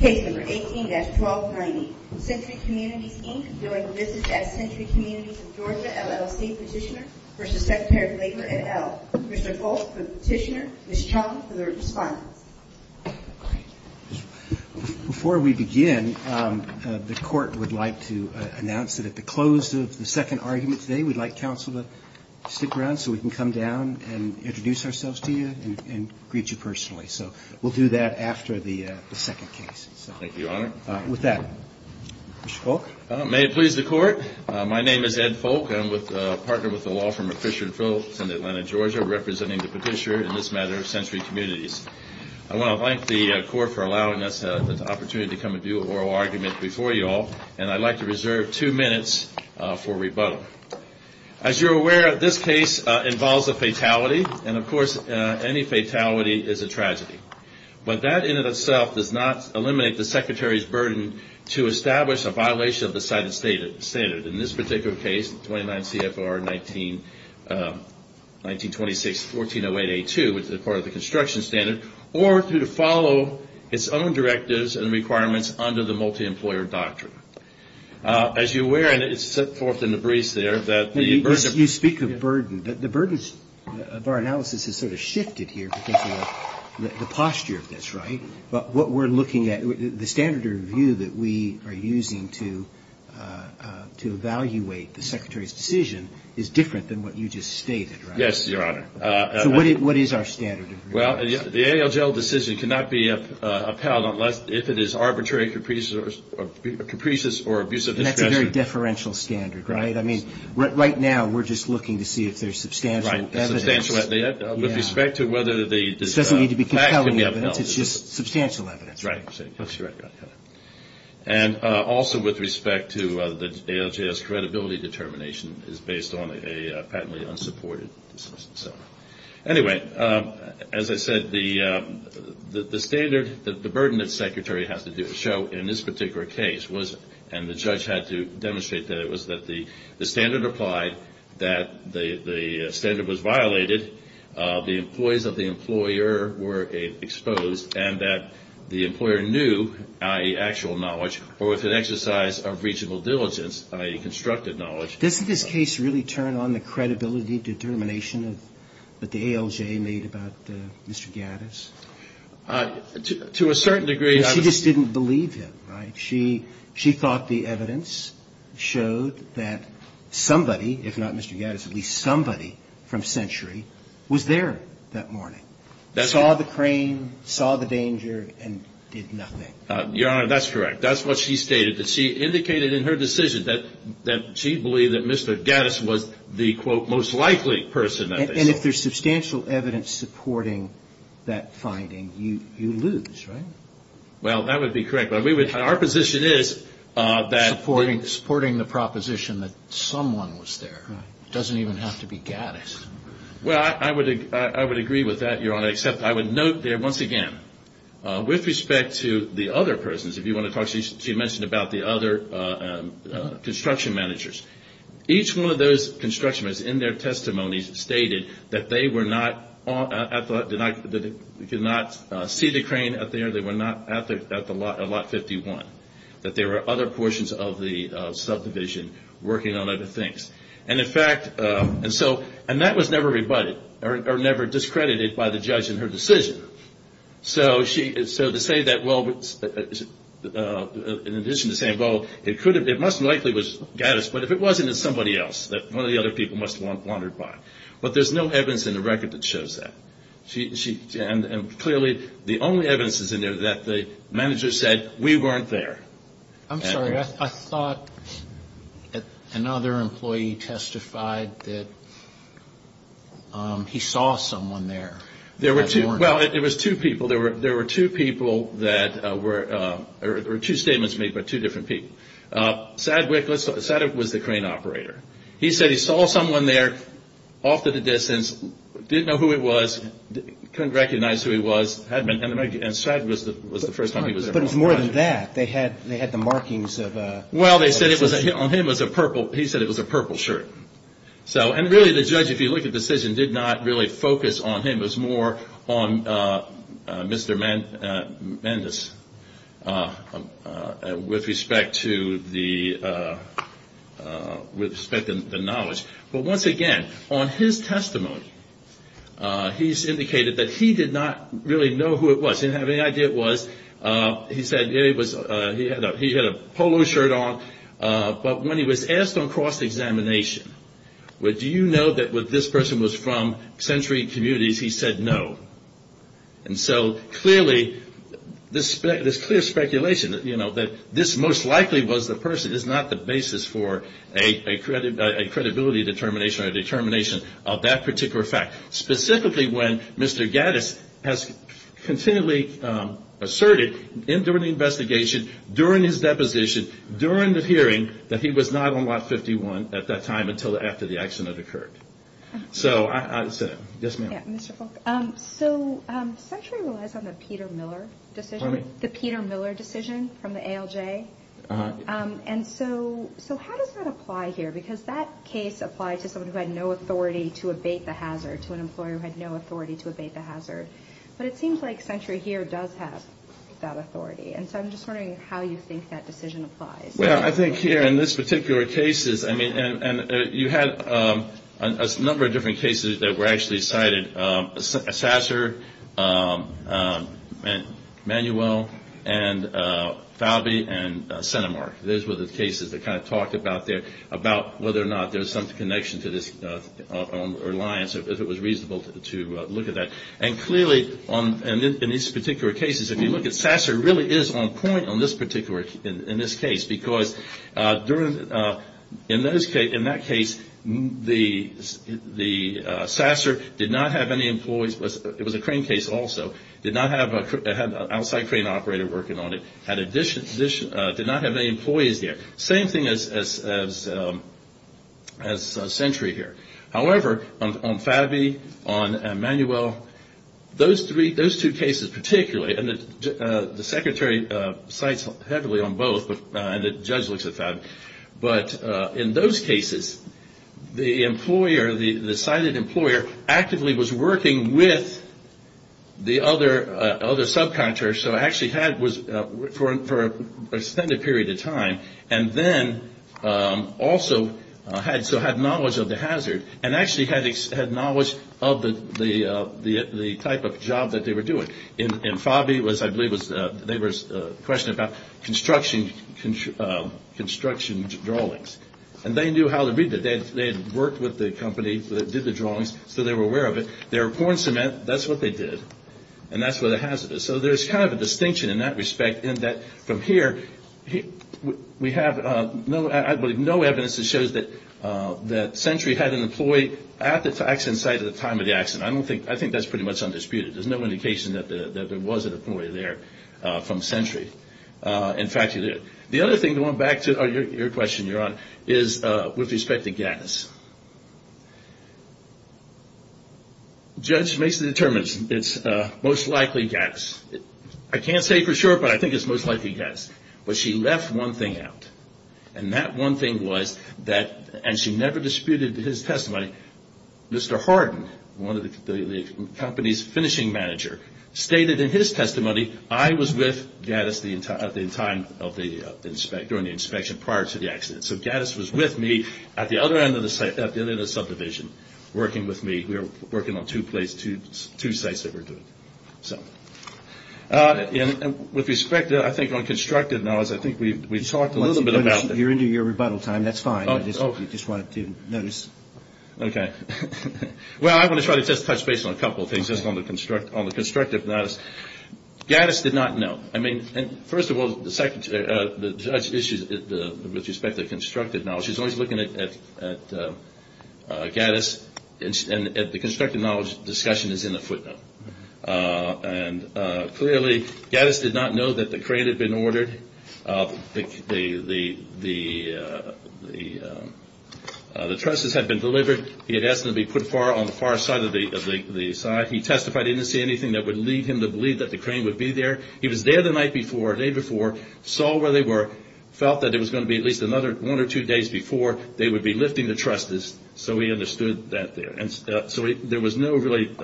Page 18-1290 Century Communities, Inc. during a visit at Century Communities of Georgia, LLC. Petitioner v. Secretary of Labor, et al. Mr. Foltz for the petitioner, Ms. Chong for the response. Before we begin, the court would like to announce that at the close of the second argument today, we'd like counsel to stick around so we can come down and introduce ourselves to you and greet you personally. So we'll do that after the second case. Thank you, Your Honor. With that, Mr. Foltz. May it please the court. My name is Ed Foltz. I'm a partner with the law firm of Fisher & Foltz in Atlanta, Georgia, representing the petitioner in this matter, Century Communities. I want to thank the court for allowing us the opportunity to come and do an oral argument before you all, and I'd like to reserve two minutes for rebuttal. As you're aware, this case involves a fatality, and of course, any fatality is a tragedy. But that in and of itself does not eliminate the Secretary's burden to establish a violation of the cited standard. In this particular case, 29 CFR 1926-1408A2, which is part of the construction standard, or to follow its own directives and requirements under the multi-employer doctrine. As you're aware, and it's set forth in the briefs there, that the burden... You speak of burden. The burdens of our analysis has sort of shifted here because of the posture of this, right? But what we're looking at, the standard of view that we are using to evaluate the Secretary's decision is different than what you just stated, right? Yes, Your Honor. So what is our standard of review? Well, the ALJL decision cannot be upheld if it is arbitrary, capricious, or abusive. And that's a very deferential standard, right? I mean, right now, we're just looking to see if there's substantial evidence. With respect to whether the fact can be upheld. It doesn't need to be compelling evidence. It's just substantial evidence. Right. And also with respect to the ALJL's credibility determination is based on a patently unsupported decision. Anyway, as I said, the standard, the burden that the Secretary has to show in this particular case was, and the judge had to demonstrate that it was that the standard applied, that the standard was violated, the employees of the employer were exposed, and that the employer knew, i.e. actual knowledge, or with an exercise of regional diligence, i.e. constructed knowledge. Doesn't this case really turn on the credibility determination that the ALJ made about Mr. Gaddis? To a certain degree. She just didn't believe him, right? She thought the evidence showed that somebody, if not Mr. Gaddis, at least somebody from Century was there that morning. Saw the crane, saw the danger, and did nothing. Your Honor, that's correct. That's what she stated. She indicated in her decision that she believed that Mr. Gaddis was the, quote, most likely person. And if there's substantial evidence supporting that finding, you lose, right? Well, that would be correct. But our position is that we – Supporting the proposition that someone was there. Right. It doesn't even have to be Gaddis. Well, I would agree with that, Your Honor, except I would note there once again, with respect to the other persons, if you want to talk – she mentioned about the other construction managers. Each one of those construction managers in their testimonies stated that they were not – did not see the crane up there. They were not at Lot 51. That there were other portions of the subdivision working on other things. And in fact – and that was never rebutted or never discredited by the judge in her decision. So to say that, well, in addition to saying, well, it could have – it must have likely was Gaddis. But if it wasn't, it's somebody else that one of the other people must have wandered by. But there's no evidence in the record that shows that. And clearly, the only evidence that's in there is that the manager said, we weren't there. I'm sorry. I thought another employee testified that he saw someone there. There were two – well, it was two people. There were two people that were – or two statements made by two different people. Sadwick was the crane operator. He said he saw someone there off to the distance, didn't know who it was, couldn't recognize who he was. And Sadwick was the first time he was there. But it's more than that. They had the markings of – Well, they said it was – on him was a purple – he said it was a purple shirt. So – and really, the judge, if you look at the decision, did not really focus on him. It was more on Mr. Mendes with respect to the – with respect to the knowledge. But once again, on his testimony, he's indicated that he did not really know who it was. He didn't have any idea it was. He said he had a polo shirt on. But when he was asked on cross-examination, do you know that this person was from Century Communities? He said no. And so clearly, this clear speculation, you know, that this most likely was the person, is not the basis for a credibility determination or a determination of that particular fact. Specifically, when Mr. Gaddis has continually asserted during the investigation, during his deposition, during the hearing, that he was not on Lot 51 at that time until after the accident occurred. So I – yes, ma'am. Yeah, Mr. Falk. So Century relies on the Peter Miller decision. Pardon me? The Peter Miller decision from the ALJ. Uh-huh. And so how does that apply here? Because that case applied to someone who had no authority to abate the hazard, to an employer who had no authority to abate the hazard. But it seems like Century here does have that authority. And so I'm just wondering how you think that decision applies. Well, I think here in this particular case, I mean, and you had a number of different cases that were actually cited. Sasser, Manuel, and Falby, and Centimark. Those were the cases that kind of talked about whether or not there was some connection to this alliance, if it was reasonable to look at that. And clearly, in these particular cases, if you look at Sasser, it really is on point in this particular case. Because in that case, Sasser did not have any employees. It was a crane case also. Did not have an outside crane operator working on it. Did not have any employees there. Same thing as Century here. However, on Falby, on Manuel, those two cases particularly, and the Secretary cites heavily on both, and the judge looks at Falby. But in those cases, the employer, the cited employer, actively was working with the other subcontractors, and then also had knowledge of the hazard, and actually had knowledge of the type of job that they were doing. In Falby, I believe there was a question about construction drawings. And they knew how to read that. They had worked with the company that did the drawings, so they were aware of it. They were pouring cement, that's what they did. And that's where the hazard is. So there's kind of a distinction in that respect, in that from here, we have, I believe, no evidence that shows that Century had an employee at the accident site at the time of the accident. I think that's pretty much undisputed. There's no indication that there was an employee there from Century. In fact, the other thing, going back to your question, Your Honor, is with respect to gas. Judge Mason determines it's most likely gas. I can't say for sure, but I think it's most likely gas. But she left one thing out. And that one thing was that, and she never disputed his testimony, Mr. Hardin, one of the company's finishing manager, stated in his testimony, I was with Gaddis at the time of the inspection, during the inspection prior to the accident. So Gaddis was with me at the other end of the subdivision, working with me. We were working on two sites that were doing it. With respect to, I think, on constructive notice, I think we talked a little bit about this. You're into your rebuttal time. That's fine. I just wanted to notice. Okay. Well, I want to try to just touch base on a couple of things, just on the constructive notice. Gaddis did not know. I mean, first of all, the judge issues, with respect to constructive knowledge, he's always looking at Gaddis, and the constructive knowledge discussion is in the footnote. And clearly, Gaddis did not know that the crane had been ordered. The trusses had been delivered. He had asked them to be put on the far side of the side. He testified he didn't see anything that would lead him to believe that the crane would be there. He was there the night before, day before, saw where they were, felt that it was going to be at least another one or two days before they would be lifting the trusses, so he understood that there. And so there was no really,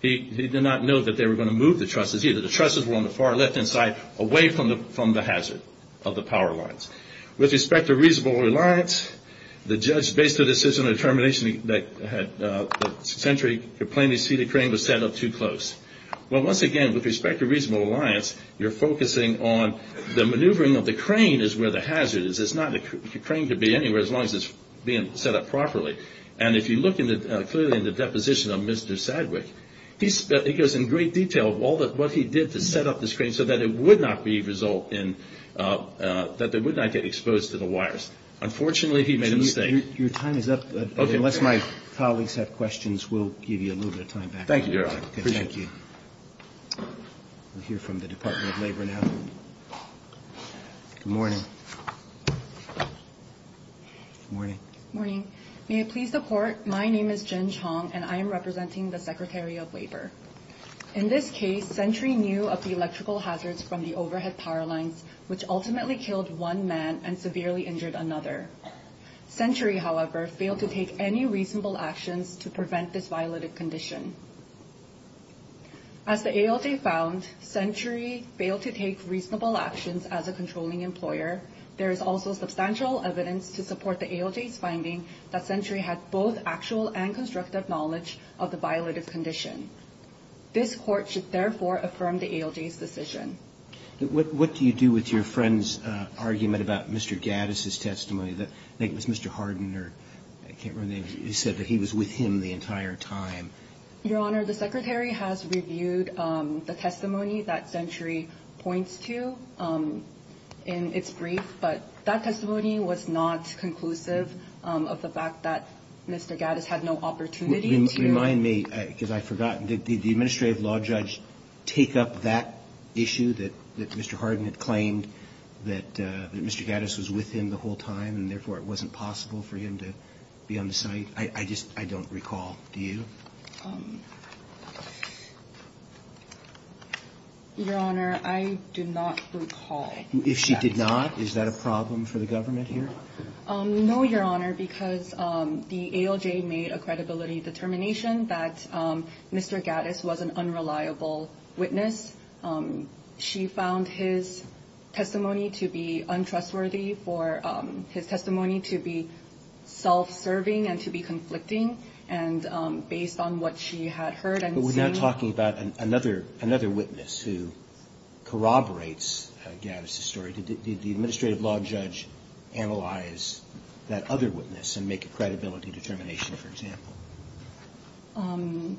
he did not know that they were going to move the trusses either. The trusses were on the far left-hand side, away from the hazard of the power lines. With respect to reasonable reliance, the judge based a decision of determination that had, the century, the plainly seated crane was set up too close. Well, once again, with respect to reasonable reliance, you're focusing on the maneuvering of the crane is where the hazard is. The crane could be anywhere as long as it's being set up properly. And if you look clearly in the deposition of Mr. Sadwick, he goes in great detail of what he did to set up this crane so that it would not be a result in, that they would not get exposed to the wires. Unfortunately, he made a mistake. Your time is up. Unless my colleagues have questions, we'll give you a little bit of time back. Thank you, Your Honor. Thank you. We'll hear from the Department of Labor now. Good morning. Good morning. Good morning. May I please report, my name is Jen Chong, and I am representing the Secretary of Labor. In this case, Century knew of the electrical hazards from the overhead power lines, which ultimately killed one man and severely injured another. Century, however, failed to take any reasonable actions to prevent this violative condition. As the ALJ found, Century failed to take reasonable actions as a controlling employer. There is also substantial evidence to support the ALJ's finding that Century had both actual and constructive knowledge of the violative condition. This Court should therefore affirm the ALJ's decision. What do you do with your friend's argument about Mr. Gaddis' testimony? I think it was Mr. Hardin, or I can't remember the name, who said that he was with him the entire time. Your Honor, the Secretary has reviewed the testimony that Century points to in its brief, but that testimony was not conclusive of the fact that Mr. Gaddis had no opportunity to remind me, because I've forgotten, did the administrative law judge take up that issue that Mr. Hardin had claimed, that Mr. Gaddis was with him the whole time, and therefore it wasn't possible for him to be on the site? I just don't recall. Do you? Your Honor, I do not recall. If she did not, is that a problem for the government here? No, Your Honor, because the ALJ made a credibility determination that Mr. Gaddis was an unreliable witness. She found his testimony to be untrustworthy, for his testimony to be self-serving and to be conflicting, and based on what she had heard and seen. But we're not talking about another witness who corroborates Gaddis' story. Did the administrative law judge analyze that other witness and make a credibility determination, for example?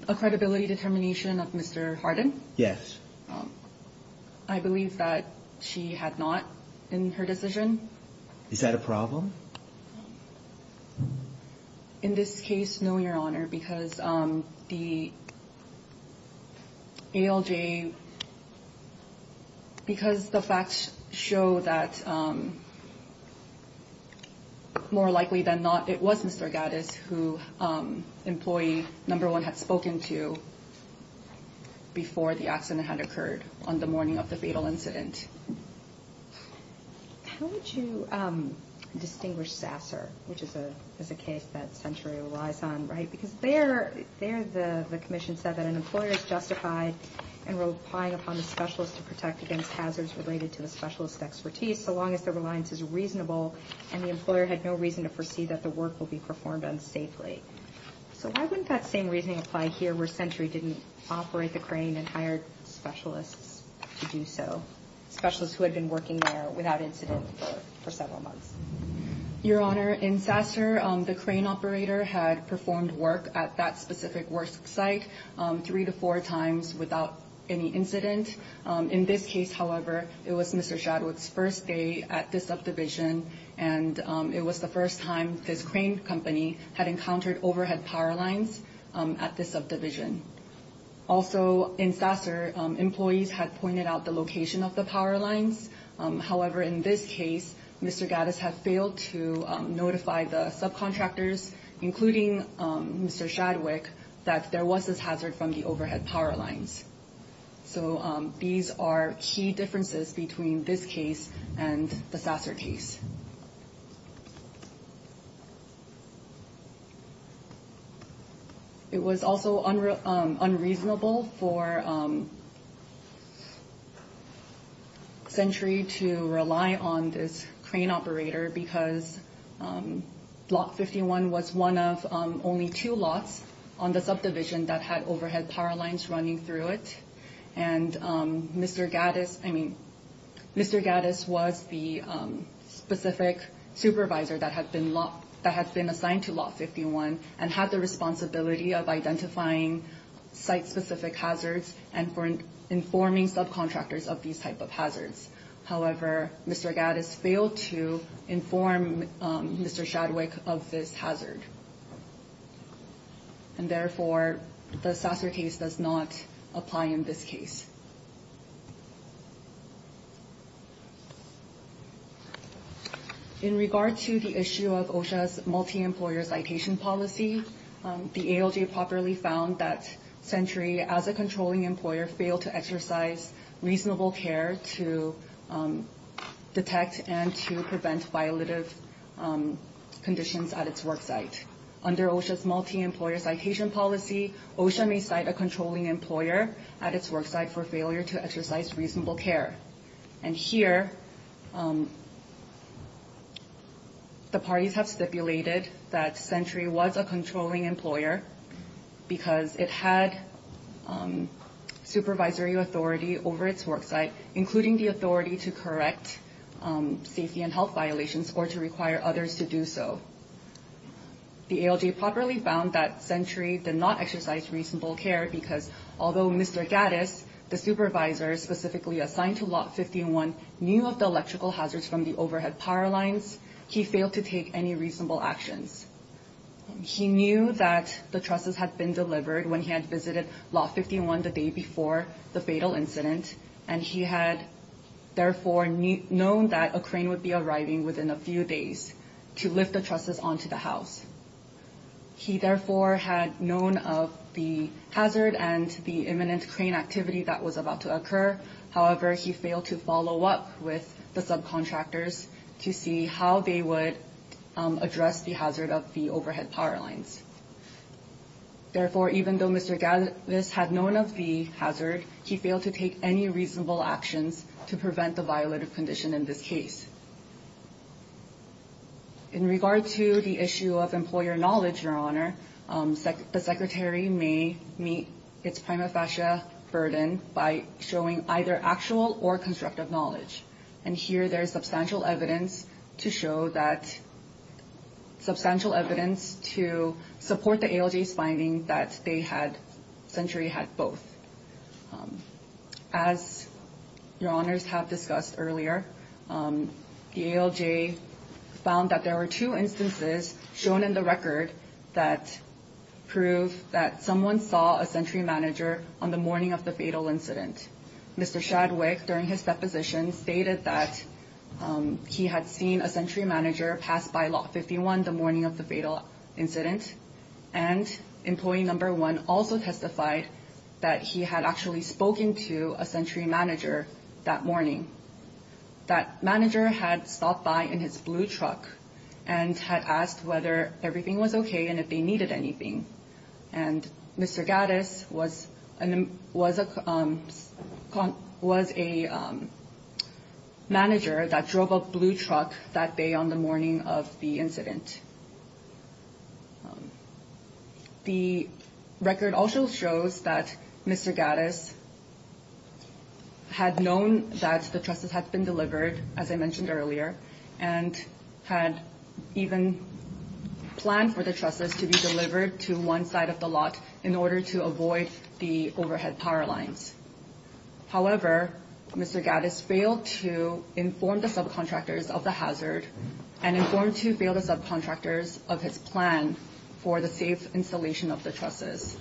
A credibility determination of Mr. Hardin? Yes. I believe that she had not in her decision. Is that a problem? In this case, no, Your Honor, because the ALJ, because the facts show that more likely than not it was Mr. Gaddis who employee number one had spoken to before the accident had occurred on the morning of the fatal incident. How would you distinguish Sasser, which is a case that Century relies on? Because there the commission said that an employer is justified in relying upon the specialist to protect against hazards related to the specialist's expertise, so long as the reliance is reasonable and the employer had no reason to foresee that the work will be performed unsafely. So why wouldn't that same reasoning apply here, where Century didn't operate the crane and hired specialists to do so, specialists who had been working there without incident for several months? Your Honor, in Sasser, the crane operator had performed work at that specific work site three to four times without any incident. In this case, however, it was Mr. Shadwick's first day at this subdivision and it was the first time this crane company had encountered overhead power lines at this subdivision. Also, in Sasser, employees had pointed out the location of the power lines. However, in this case, Mr. Gaddis had failed to notify the subcontractors, including Mr. Shadwick, that there was this hazard from the overhead power lines. So these are key differences between this case and the Sasser case. It was also unreasonable for Century to rely on this crane operator because Lot 51 was one of only two lots on the subdivision that had overhead power lines running through it. And Mr. Gaddis was the specific supervisor that had been assigned to Lot 51 and had the responsibility of identifying site-specific hazards and for informing subcontractors of these type of hazards. However, Mr. Gaddis failed to inform Mr. Shadwick of this hazard. And therefore, the Sasser case does not apply in this case. In regard to the issue of OSHA's multi-employer citation policy, the ALJ properly found that Century, as a controlling employer, failed to exercise reasonable care to detect and to prevent violative conditions at its worksite. Under OSHA's multi-employer citation policy, OSHA may cite a controlling employer at its worksite for failure to exercise reasonable care. And here, the parties have stipulated that Century was a controlling employer because it had supervisory authority over its worksite, including the authority to correct safety and health violations or to require others to do so. The ALJ properly found that Century did not exercise reasonable care because although Mr. Gaddis, the supervisor specifically assigned to Lot 51, knew of the electrical hazards from the overhead power lines, he failed to take any reasonable actions. He knew that the trusses had been delivered when he had visited Lot 51 the day before the fatal incident, and he had therefore known that a crane would be arriving within a few days to lift the trusses onto the house. He therefore had known of the hazard and the imminent crane activity that was about to occur. However, he failed to follow up with the subcontractors to see how they would address the hazard of the overhead power lines. Therefore, even though Mr. Gaddis had known of the hazard, he failed to take any reasonable actions to prevent the violative condition in this case. In regard to the issue of employer knowledge, Your Honor, the Secretary may meet its prima facie burden by showing either actual or constructive knowledge, and here there is substantial evidence to show that, substantial evidence to support the ALJ's finding that Century had both. As Your Honors have discussed earlier, the ALJ found that there were two instances shown in the record that prove that someone saw a Century manager on the morning of the fatal incident. Mr. Shadwick, during his deposition, stated that he had seen a Century manager pass by Lot 51 the morning of the fatal incident, and employee number one also testified that he had actually spoken to a Century manager that morning. That manager had stopped by in his blue truck and had asked whether everything was okay and if they needed anything, and Mr. Gaddis was a manager that drove a blue truck that day on the morning of the incident. The record also shows that Mr. Gaddis had known that the trusses had been delivered, as I mentioned earlier, and had even planned for the trusses to be delivered to one side of the lot in order to avoid the overhead power lines. However, Mr. Gaddis failed to inform the subcontractors of the hazard and informed two failed subcontractors of his plan for the safe installation of the trusses.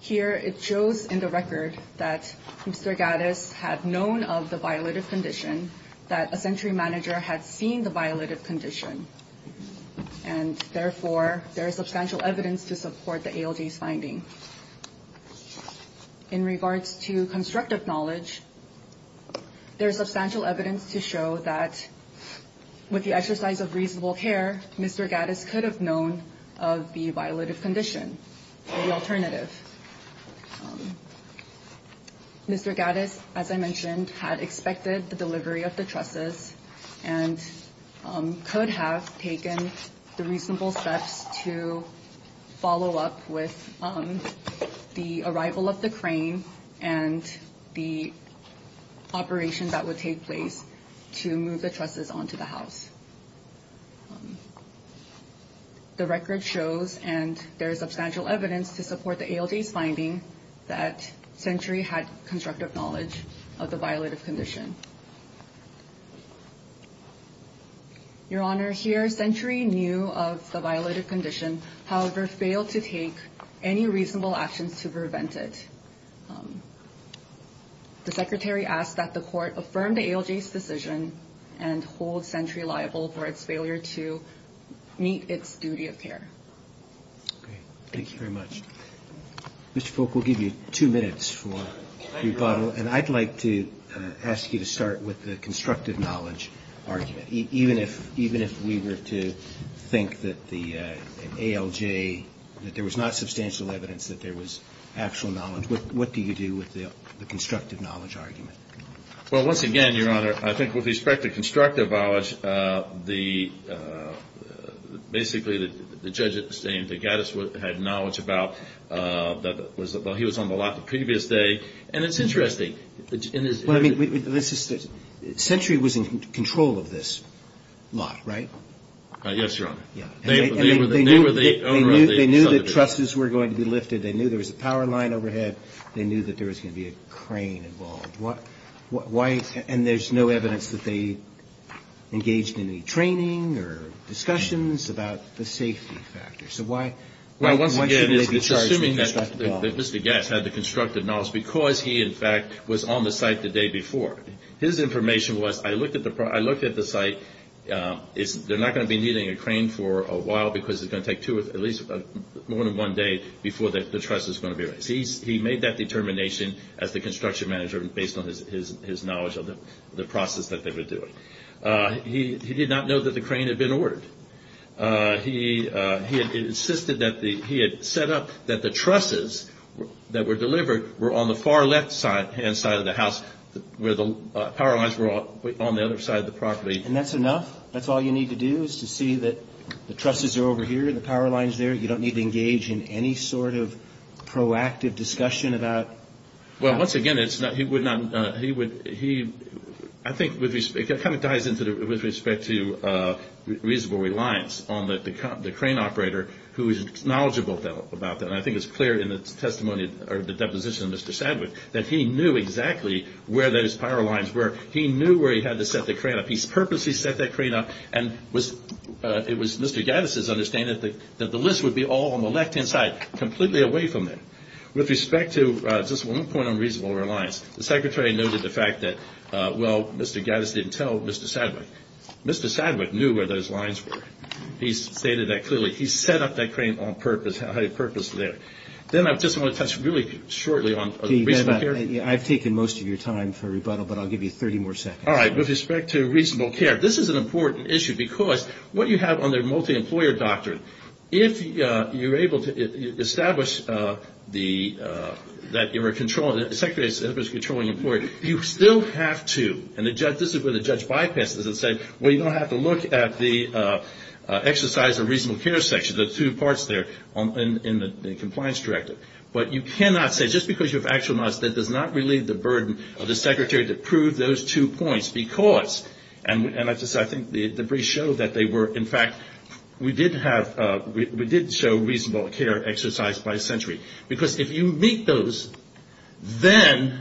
Here it shows in the record that Mr. Gaddis had known of the violative condition, that a Century manager had seen the violative condition, and therefore there is substantial evidence to support the ALJ's finding. In regards to constructive knowledge, there is substantial evidence to show that with the exercise of reasonable care, Mr. Gaddis could have known of the violative condition, the alternative. Mr. Gaddis, as I mentioned, had expected the delivery of the trusses and could have taken the reasonable steps to follow up with the arrival of the crane and the operation that would take place to move the trusses onto the house. The record shows, and there is substantial evidence to support the ALJ's finding, that Century had constructive knowledge of the violative condition. Your Honor, here Century knew of the violative condition, however failed to take any reasonable actions to prevent it. The Secretary asked that the Court affirm the ALJ's decision and hold Century liable for its failure to meet its duty of care. Thank you very much. Mr. Polk, we'll give you two minutes for rebuttal, and I'd like to ask you to start with the constructive knowledge argument. Even if we were to think that the ALJ, that there was not substantial evidence that there was actual knowledge, what do you do with the constructive knowledge argument? Well, once again, Your Honor, I think with respect to constructive knowledge, basically the judge at the same time had knowledge about that he was on the lot the previous day, and it's interesting. Well, I mean, Century was in control of this lot, right? Yes, Your Honor. They knew that trusses were going to be lifted. They knew there was a power line overhead. They knew that there was going to be a crane involved. And there's no evidence that they engaged in any training or discussions about the safety factors. So why shouldn't they be charged with constructive knowledge? Well, once again, it's assuming that Mr. Gatz had the constructive knowledge because he, in fact, was on the site the day before. His information was, I looked at the site. They're not going to be needing a crane for a while because it's going to take at least more than one day before the truss is going to be raised. He made that determination as the construction manager based on his knowledge of the process that they were doing. He did not know that the crane had been ordered. He insisted that he had set up that the trusses that were delivered were on the far left-hand side of the house where the power lines were on the other side of the property. And that's enough? That's all you need to do is to see that the trusses are over here and the power line is there? You don't need to engage in any sort of proactive discussion about that? Well, once again, he would not, he would, I think it kind of ties in with respect to reasonable reliance on the crane operator who is knowledgeable about that. And I think it's clear in the testimony or the deposition of Mr. Sadwick that he knew exactly where those power lines were. He knew where he had to set the crane up. He purposely set that crane up and it was Mr. Gaddis' understanding that the list would be all on the left-hand side, completely away from it. With respect to just one point on reasonable reliance, the Secretary noted the fact that, well, Mr. Gaddis didn't tell Mr. Sadwick. Mr. Sadwick knew where those lines were. He stated that clearly. He set up that crane on purpose, had a purpose there. Then I just want to touch really shortly on reasonable care. I've taken most of your time for rebuttal, but I'll give you 30 more seconds. All right. With respect to reasonable care, this is an important issue because what you have on the multi-employer doctrine, if you're able to establish that you're a controlling, the Secretary is a controlling employer, you still have to, and this is where the judge bypasses it and says, well, you don't have to look at the exercise of reasonable care section, the two parts there in the compliance directive. But you cannot say, just because you have actual knowledge, that does not relieve the burden of the Secretary to prove those two points because, and I think the briefs show that they were, in fact, we did show reasonable care exercised by century. Because if you meet those, then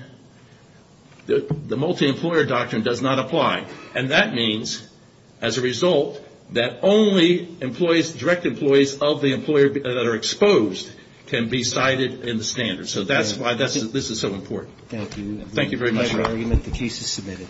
the multi-employer doctrine does not apply. And that means, as a result, that only direct employees of the employer that are exposed can be cited in the standards. So that's why this is so important. Thank you. Thank you very much. The case is submitted.